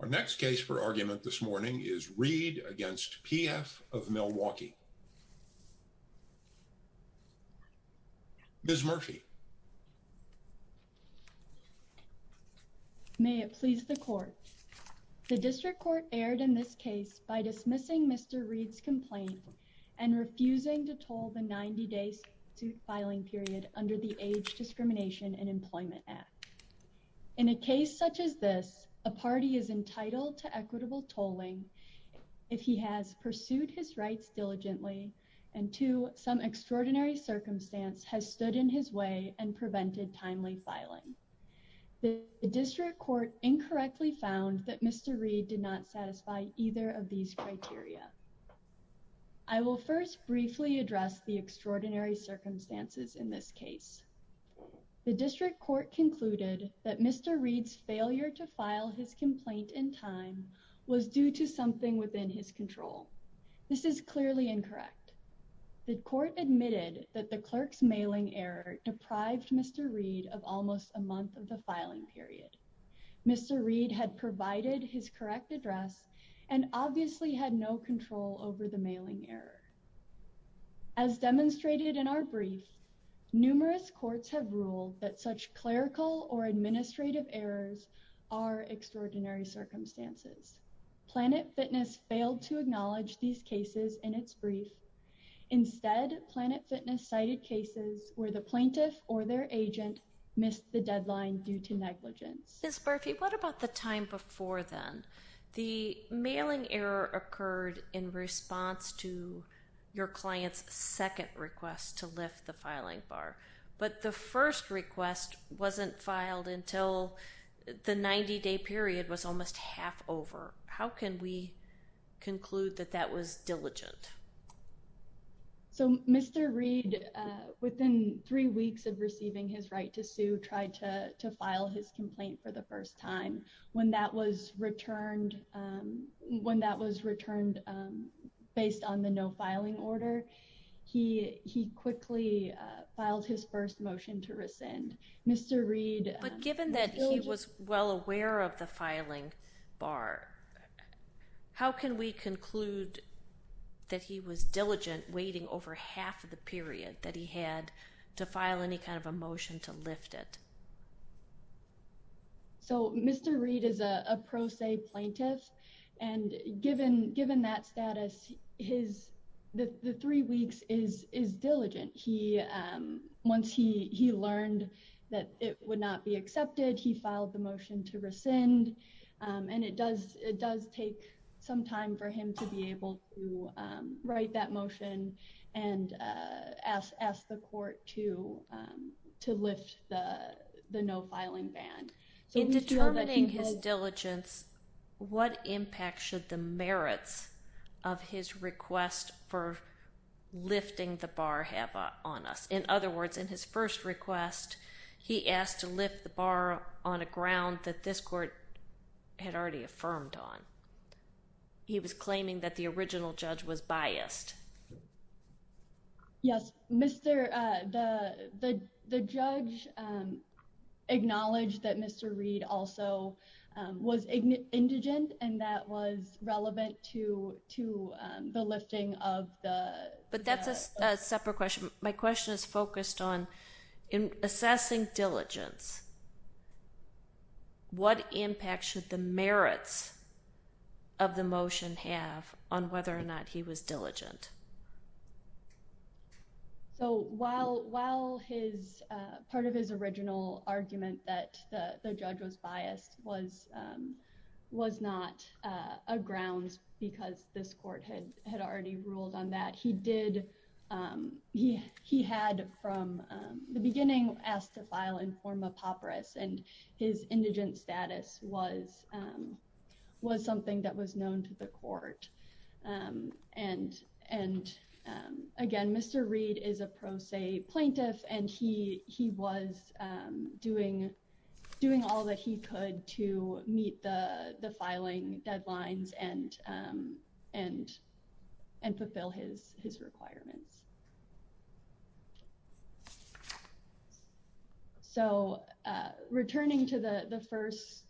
Our next case for argument this morning is Reed against PF of Milwaukee. Ms. Murphy. May it please the court. The district court erred in this case by dismissing Mr. Reed's complaint and refusing to toll the 90 days to filing period under the Age Discrimination and Employment Act. In a case such as this, a party is entitled to equitable tolling if he has pursued his rights diligently and to some extraordinary circumstance has stood in his way and prevented timely filing. The district court incorrectly found that Mr. Reed did not satisfy either of these criteria. I will first briefly address the extraordinary circumstances in this case. The district court concluded that Mr. Reed's failure to file his complaint in time was due to something within his control. This is clearly incorrect. The court admitted that the clerk's mailing error deprived Mr. Reed of almost a month of the filing period. Mr. Reed had provided his correct address and obviously had no control over the mailing error. As demonstrated in our brief, numerous courts have ruled that such clerical or administrative errors are extraordinary circumstances. Planet Fitness failed to acknowledge these cases in its brief. Instead, Planet Fitness cited cases where the plaintiff or their agent missed the deadline due to negligence. Ms. Murphy, what about the time before then? The mailing error occurred in response to your client's second request to lift the filing bar, but the first request wasn't filed until the 90-day period was almost half over. How can we conclude that that was diligent? So Mr. Reed, within three weeks of receiving his right to sue, tried to file his complaint for the first time. When that was returned, when that was he quickly filed his first motion to rescind. Mr. Reed... But given that he was well aware of the filing bar, how can we conclude that he was diligent waiting over half of the period that he had to file any kind of a motion to lift it? So Mr. Reed is a pro se plaintiff and given that status, the three weeks is diligent. Once he learned that it would not be accepted, he filed the motion to rescind and it does take some time for him to be able to write that motion and ask the court to lift the no filing ban. In determining his diligence, what impact should the merits of his request for lifting the bar have on us? In other words, in his first request, he asked to lift the bar on a ground that this court had already affirmed on. He was claiming that the original judge was biased. Yes, the judge acknowledged that Mr. Reed also was indigent and that was relevant to the lifting of the... But that's a separate question. My question is focused on in assessing diligence, what impact should the merits of the motion have on whether or not he was diligent? So while part of his original argument that the judge was biased was not a grounds because this court had already ruled on that, he had from the beginning asked to file in form of papyrus and his indigent status was something that was known to the court. And again, Mr. Reed is a pro se plaintiff and he was doing all that he could to meet the filing deadlines and fulfill his requirements. So returning to the first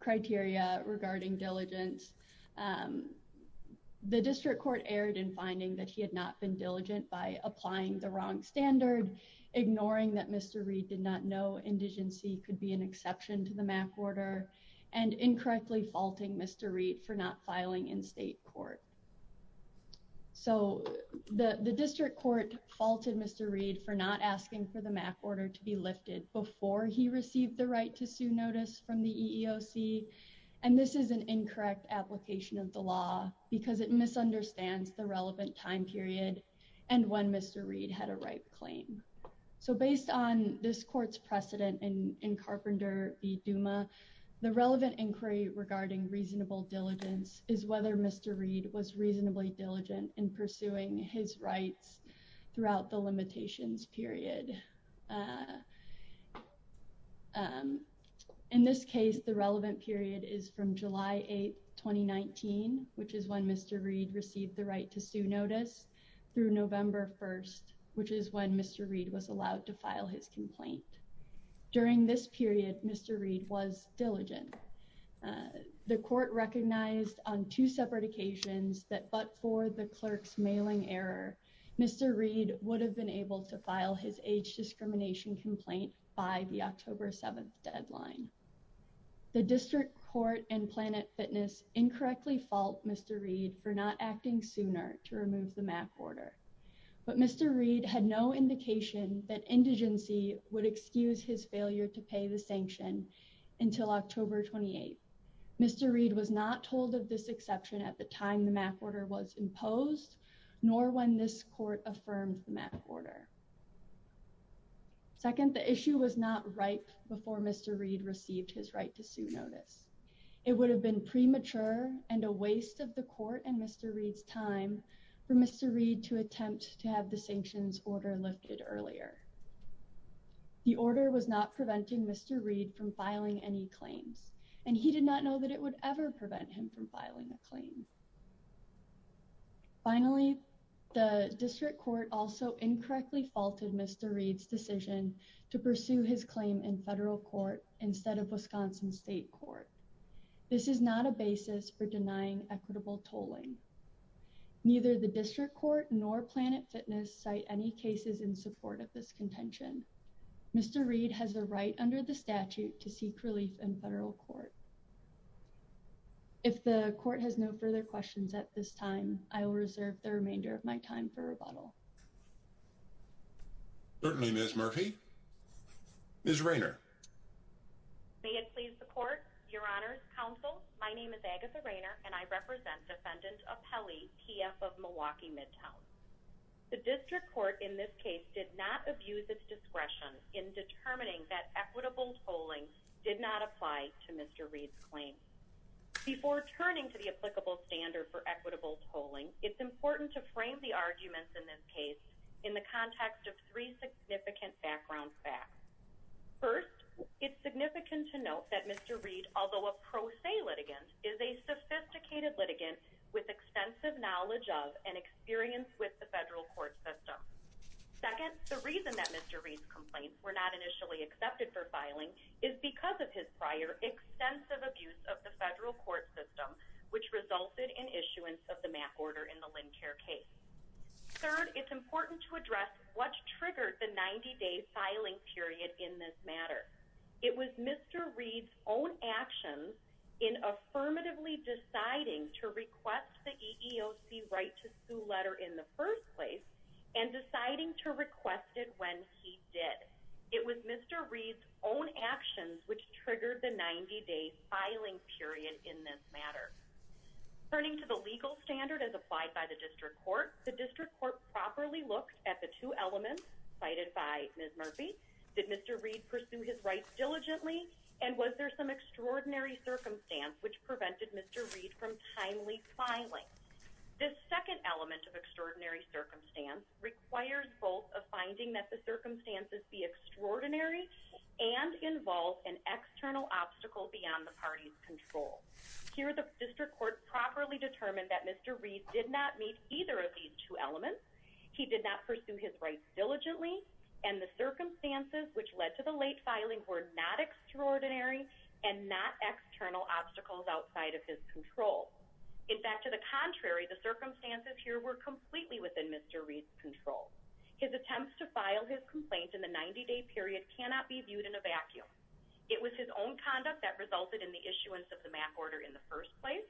criteria regarding diligence, the district court erred in finding that he had not been diligent by applying the wrong standard, ignoring that Mr. Reed did not know indigency could be an exception to the statute, and incorrectly faulting Mr. Reed for not filing in state court. So the district court faulted Mr. Reed for not asking for the MAC order to be lifted before he received the right to sue notice from the EEOC and this is an incorrect application of the law because it misunderstands the relevant time period and when Mr. Reed had a right claim. So based on this court's precedent in Carpenter v. Duma, the relevant inquiry regarding reasonable diligence is whether Mr. Reed was reasonably diligent in pursuing his rights throughout the limitations period. In this case, the relevant period is from July 8, 2019, which is when Mr. Reed received the right to sue notice, through November 1st, which is when Mr. Reed was allowed to file his complaint. During this period, Mr. Reed was diligent. The court recognized on two separate occasions that but for the clerk's mailing error, Mr. Reed would have been able to file his age discrimination complaint by the October 7th deadline. The district court and Planet Fitness incorrectly fault Mr. Reed for not acting sooner to remove the Mr. Reed was not told of this exception at the time the MAC order was imposed nor when this court affirmed the MAC order. Second, the issue was not right before Mr. Reed received his right to sue notice. It would have been premature and a waste of the court and Mr. Reed's time for Mr. Reed to attempt to have the sanctions order lifted earlier. The order was not preventing Mr. Reed from filing any claims and he did not know that it would ever prevent him from filing a claim. Finally, the district court also incorrectly faulted Mr. Reed's decision to pursue his claim in federal court instead of Wisconsin State Court. This is not a basis for denying equitable tolling. Neither the district court nor Planet Fitness cite any cases in support of this contention. Mr. Reed has the right under the statute to seek relief in federal court. If the court has no further questions at this time, I will reserve the remainder of my time for rebuttal. Certainly, Miss Murphy, Miss Rainer. May it please the court, Your Honor's counsel. My name is Agatha Rainer and I the district court in this case did not abuse its discretion in determining that equitable tolling did not apply to Mr Reed's claim before turning to the applicable standard for equitable tolling. It's important to frame the arguments in this case in the context of three significant background facts. First, it's significant to note that Mr Reed, although a pro se litigant, is a sophisticated litigant with extensive knowledge of and experience with the federal court system. Second, the reason that Mr Reed's complaints were not initially accepted for filing is because of his prior extensive abuse of the federal court system, which resulted in issuance of the map order in the Lynn Care case. Third, it's important to address what triggered the 90 day filing period in this matter. It was Mr Reed's own actions in affirmatively deciding to and deciding to request it when he did. It was Mr Reed's own actions which triggered the 90 day filing period in this matter. Turning to the legal standard as applied by the district court, the district court properly looked at the two elements cited by Miss Murphy. Did Mr Reed pursue his rights diligently? And was there some extraordinary circumstance which prevented Mr Reed from timely filing? This second element of extraordinary circumstance requires both of finding that the circumstances be extraordinary and involve an external obstacle beyond the party's control. Here the district court properly determined that Mr Reed did not meet either of these two elements. He did not pursue his rights diligently and the circumstances which led to the late filing were not extraordinary and not external obstacles outside of his control. In fact, to the contrary, the Mr Reed's control. His attempts to file his complaint in the 90 day period cannot be viewed in a vacuum. It was his own conduct that resulted in the issuance of the map order in the first place.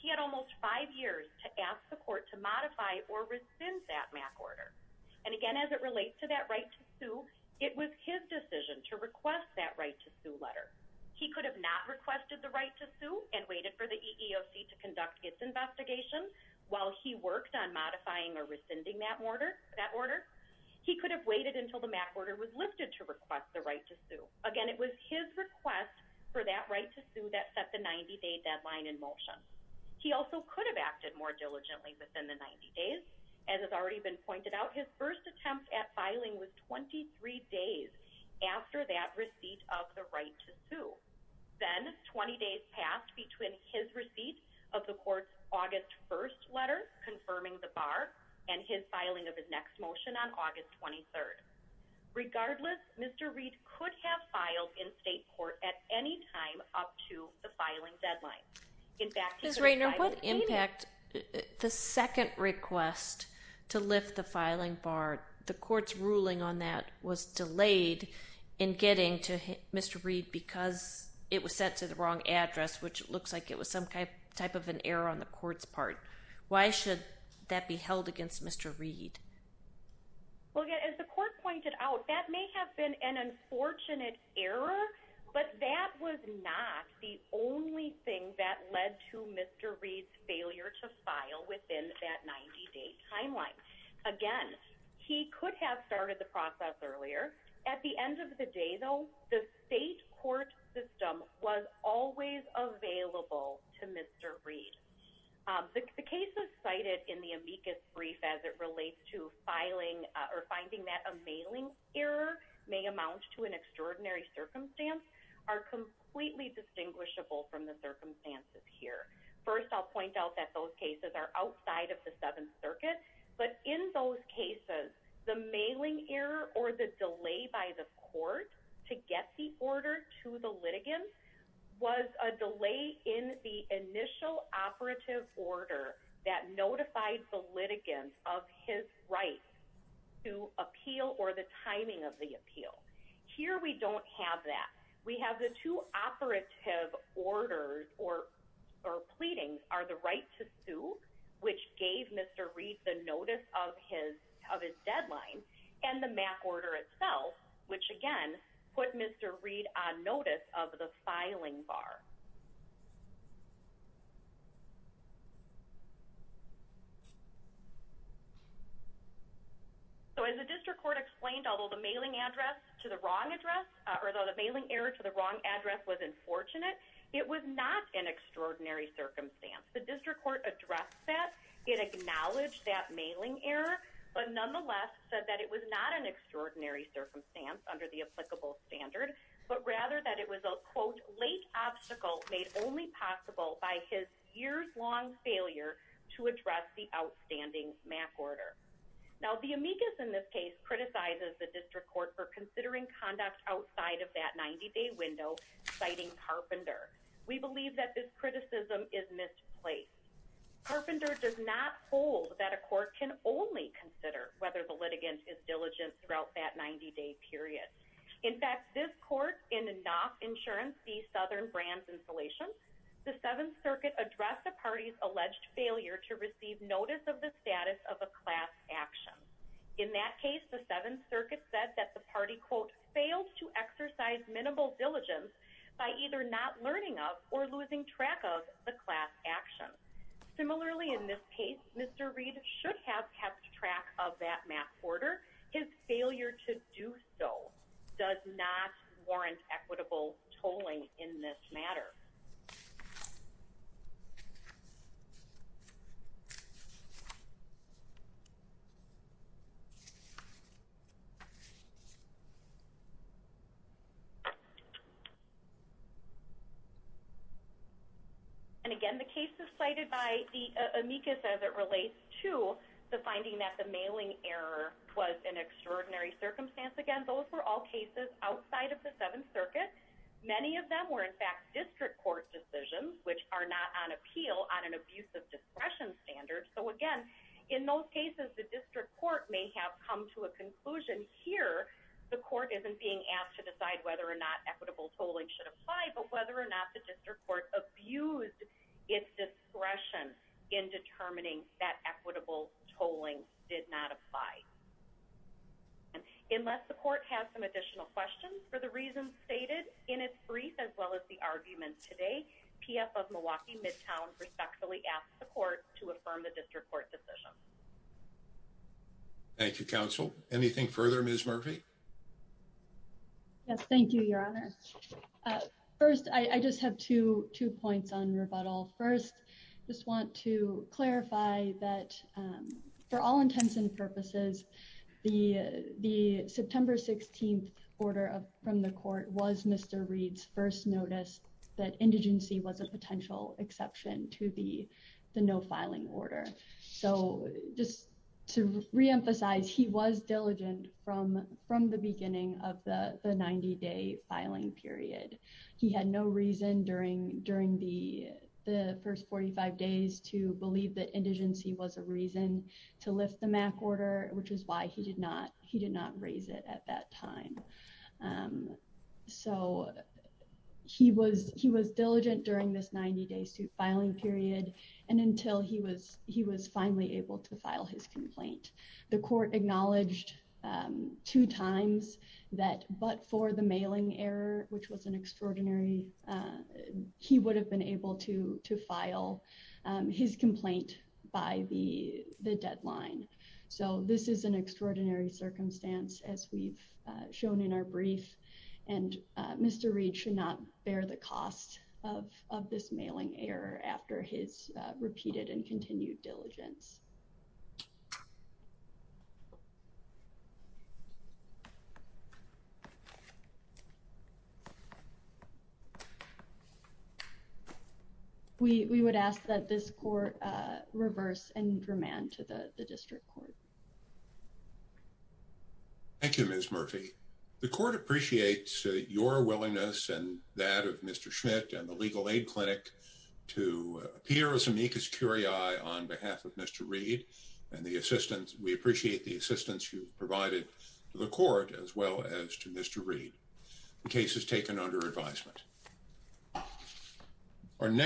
He had almost five years to ask the court to modify or rescind that map order. And again, as it relates to that right to sue, it was his decision to request that right to sue letter. He could have not requested the right to sue and waited for the EEOC to rescind that order. He could have waited until the map order was lifted to request the right to sue. Again, it was his request for that right to sue that set the 90 day deadline in motion. He also could have acted more diligently within the 90 days. As has already been pointed out, his first attempt at filing was 23 days after that receipt of the right to sue. Then 20 days passed between his receipt of the court's August 1st letter confirming the bar and his filing of his next motion on August 23rd. Regardless, Mr Reed could have filed in state court at any time up to the filing deadline. In fact, Miss Rainer, what impact the second request to lift the filing bar, the court's ruling on that was delayed in getting to Mr Reed because it was set to the wrong address, which looks like it was some type of an error on the Mr Reed. Well, again, as the court pointed out, that may have been an unfortunate error, but that was not the only thing that led to Mr Reed's failure to file within that 90 day timeline. Again, he could have started the process earlier. At the end of the day, though, the state court system was always available to Mr Reed. Um, the cases cited in the amicus brief as it relates to filing or finding that a mailing error may amount to an extraordinary circumstance are completely distinguishable from the circumstances here. First, I'll point out that those cases are outside of the Seventh Circuit, but in those cases, the mailing error or the delay by the court to get the order to the litigants was a delay in the initial operative order that notified the litigants of his right to appeal or the timing of the appeal. Here we don't have that. We have the two operative orders or or pleadings are the right to sue, which gave Mr Reed the notice of his of his deadline and the Mac order itself, which again put Mr Reed on notice of the filing bar. Mhm. So as the district court explained, although the mailing address to the wrong address or the mailing error to the wrong address was unfortunate, it was not an extraordinary circumstance. The district court addressed that it acknowledged that mailing error, but nonetheless said that it was not an extraordinary circumstance under the applicable standard, but rather that it was a quote late obstacle made only possible by his years long failure to address the outstanding Mac order. Now the amicus in this case criticizes the district court for considering conduct outside of that 90 day window, citing carpenter. We believe that this criticism is misplaced. Carpenter does not hold that a court can only consider whether the litigants is diligent throughout that 90 day period. In fact, this court in enough insurance, the southern brands installation, the Seventh Circuit addressed the party's alleged failure to receive notice of the status of a class action. In that case, the Seventh Circuit said that the party quote failed to exercise minimal diligence by either not learning of or losing track of the class action. Similarly, in this case, Mr Reed should have kept track of that Mac order. His failure to do so does not warrant equitable tolling in this matter. And again, the case is cited by the amicus as it relates to the finding that the mailing error was an extraordinary circumstance. Again, those were all cases outside of the Seventh Circuit. Many of them were, in fact, district court decisions which are not on appeal on an abusive discretion standard. So again, in those cases, the district court may have come to a conclusion here. The court isn't being asked to decide whether or not equitable tolling should apply, but whether or not the district court abused its discretion in determining that equitable tolling did not apply. Unless the court has some additional questions for the reasons stated in its brief, as well as the arguments today, P. F. Of Milwaukee Midtown respectfully asked the court to affirm the district court decision. Thank you, Counsel. Anything further? Ms Murphy. Yes. Thank you, Your Honor. First, I just have to two points on rebuttal. First, just want to clarify that for all intents and purposes, the September 16th order from the court was Mr Reed's first notice that indigency was a potential exception to the no filing order. So just to reemphasize, he was diligent from the beginning of the 90 day filing period. He had no reason during the first 45 days to believe that indigency was a reason to lift the MAC order, which is why he did not raise it at that time. So he was diligent during this 90 day suit filing period and until he was finally able to file his two times that but for the mailing error, which was an extraordinary, he would have been able to to file his complaint by the deadline. So this is an extraordinary circumstance, as we've shown in our brief, and Mr Reed should not bear the cost of this mailing error after his repeated and continued diligence. Yeah. We would ask that this court reverse and remand to the district court. Thank you, Ms Murphy. The court appreciates your willingness and that of Mr Schmidt and the legal aid clinic to appear as amicus curiae on behalf of Mr Reed and the assistance. We appreciate the assistance you've the court as well as to Mr Reed. The case is taken under advisement. Our next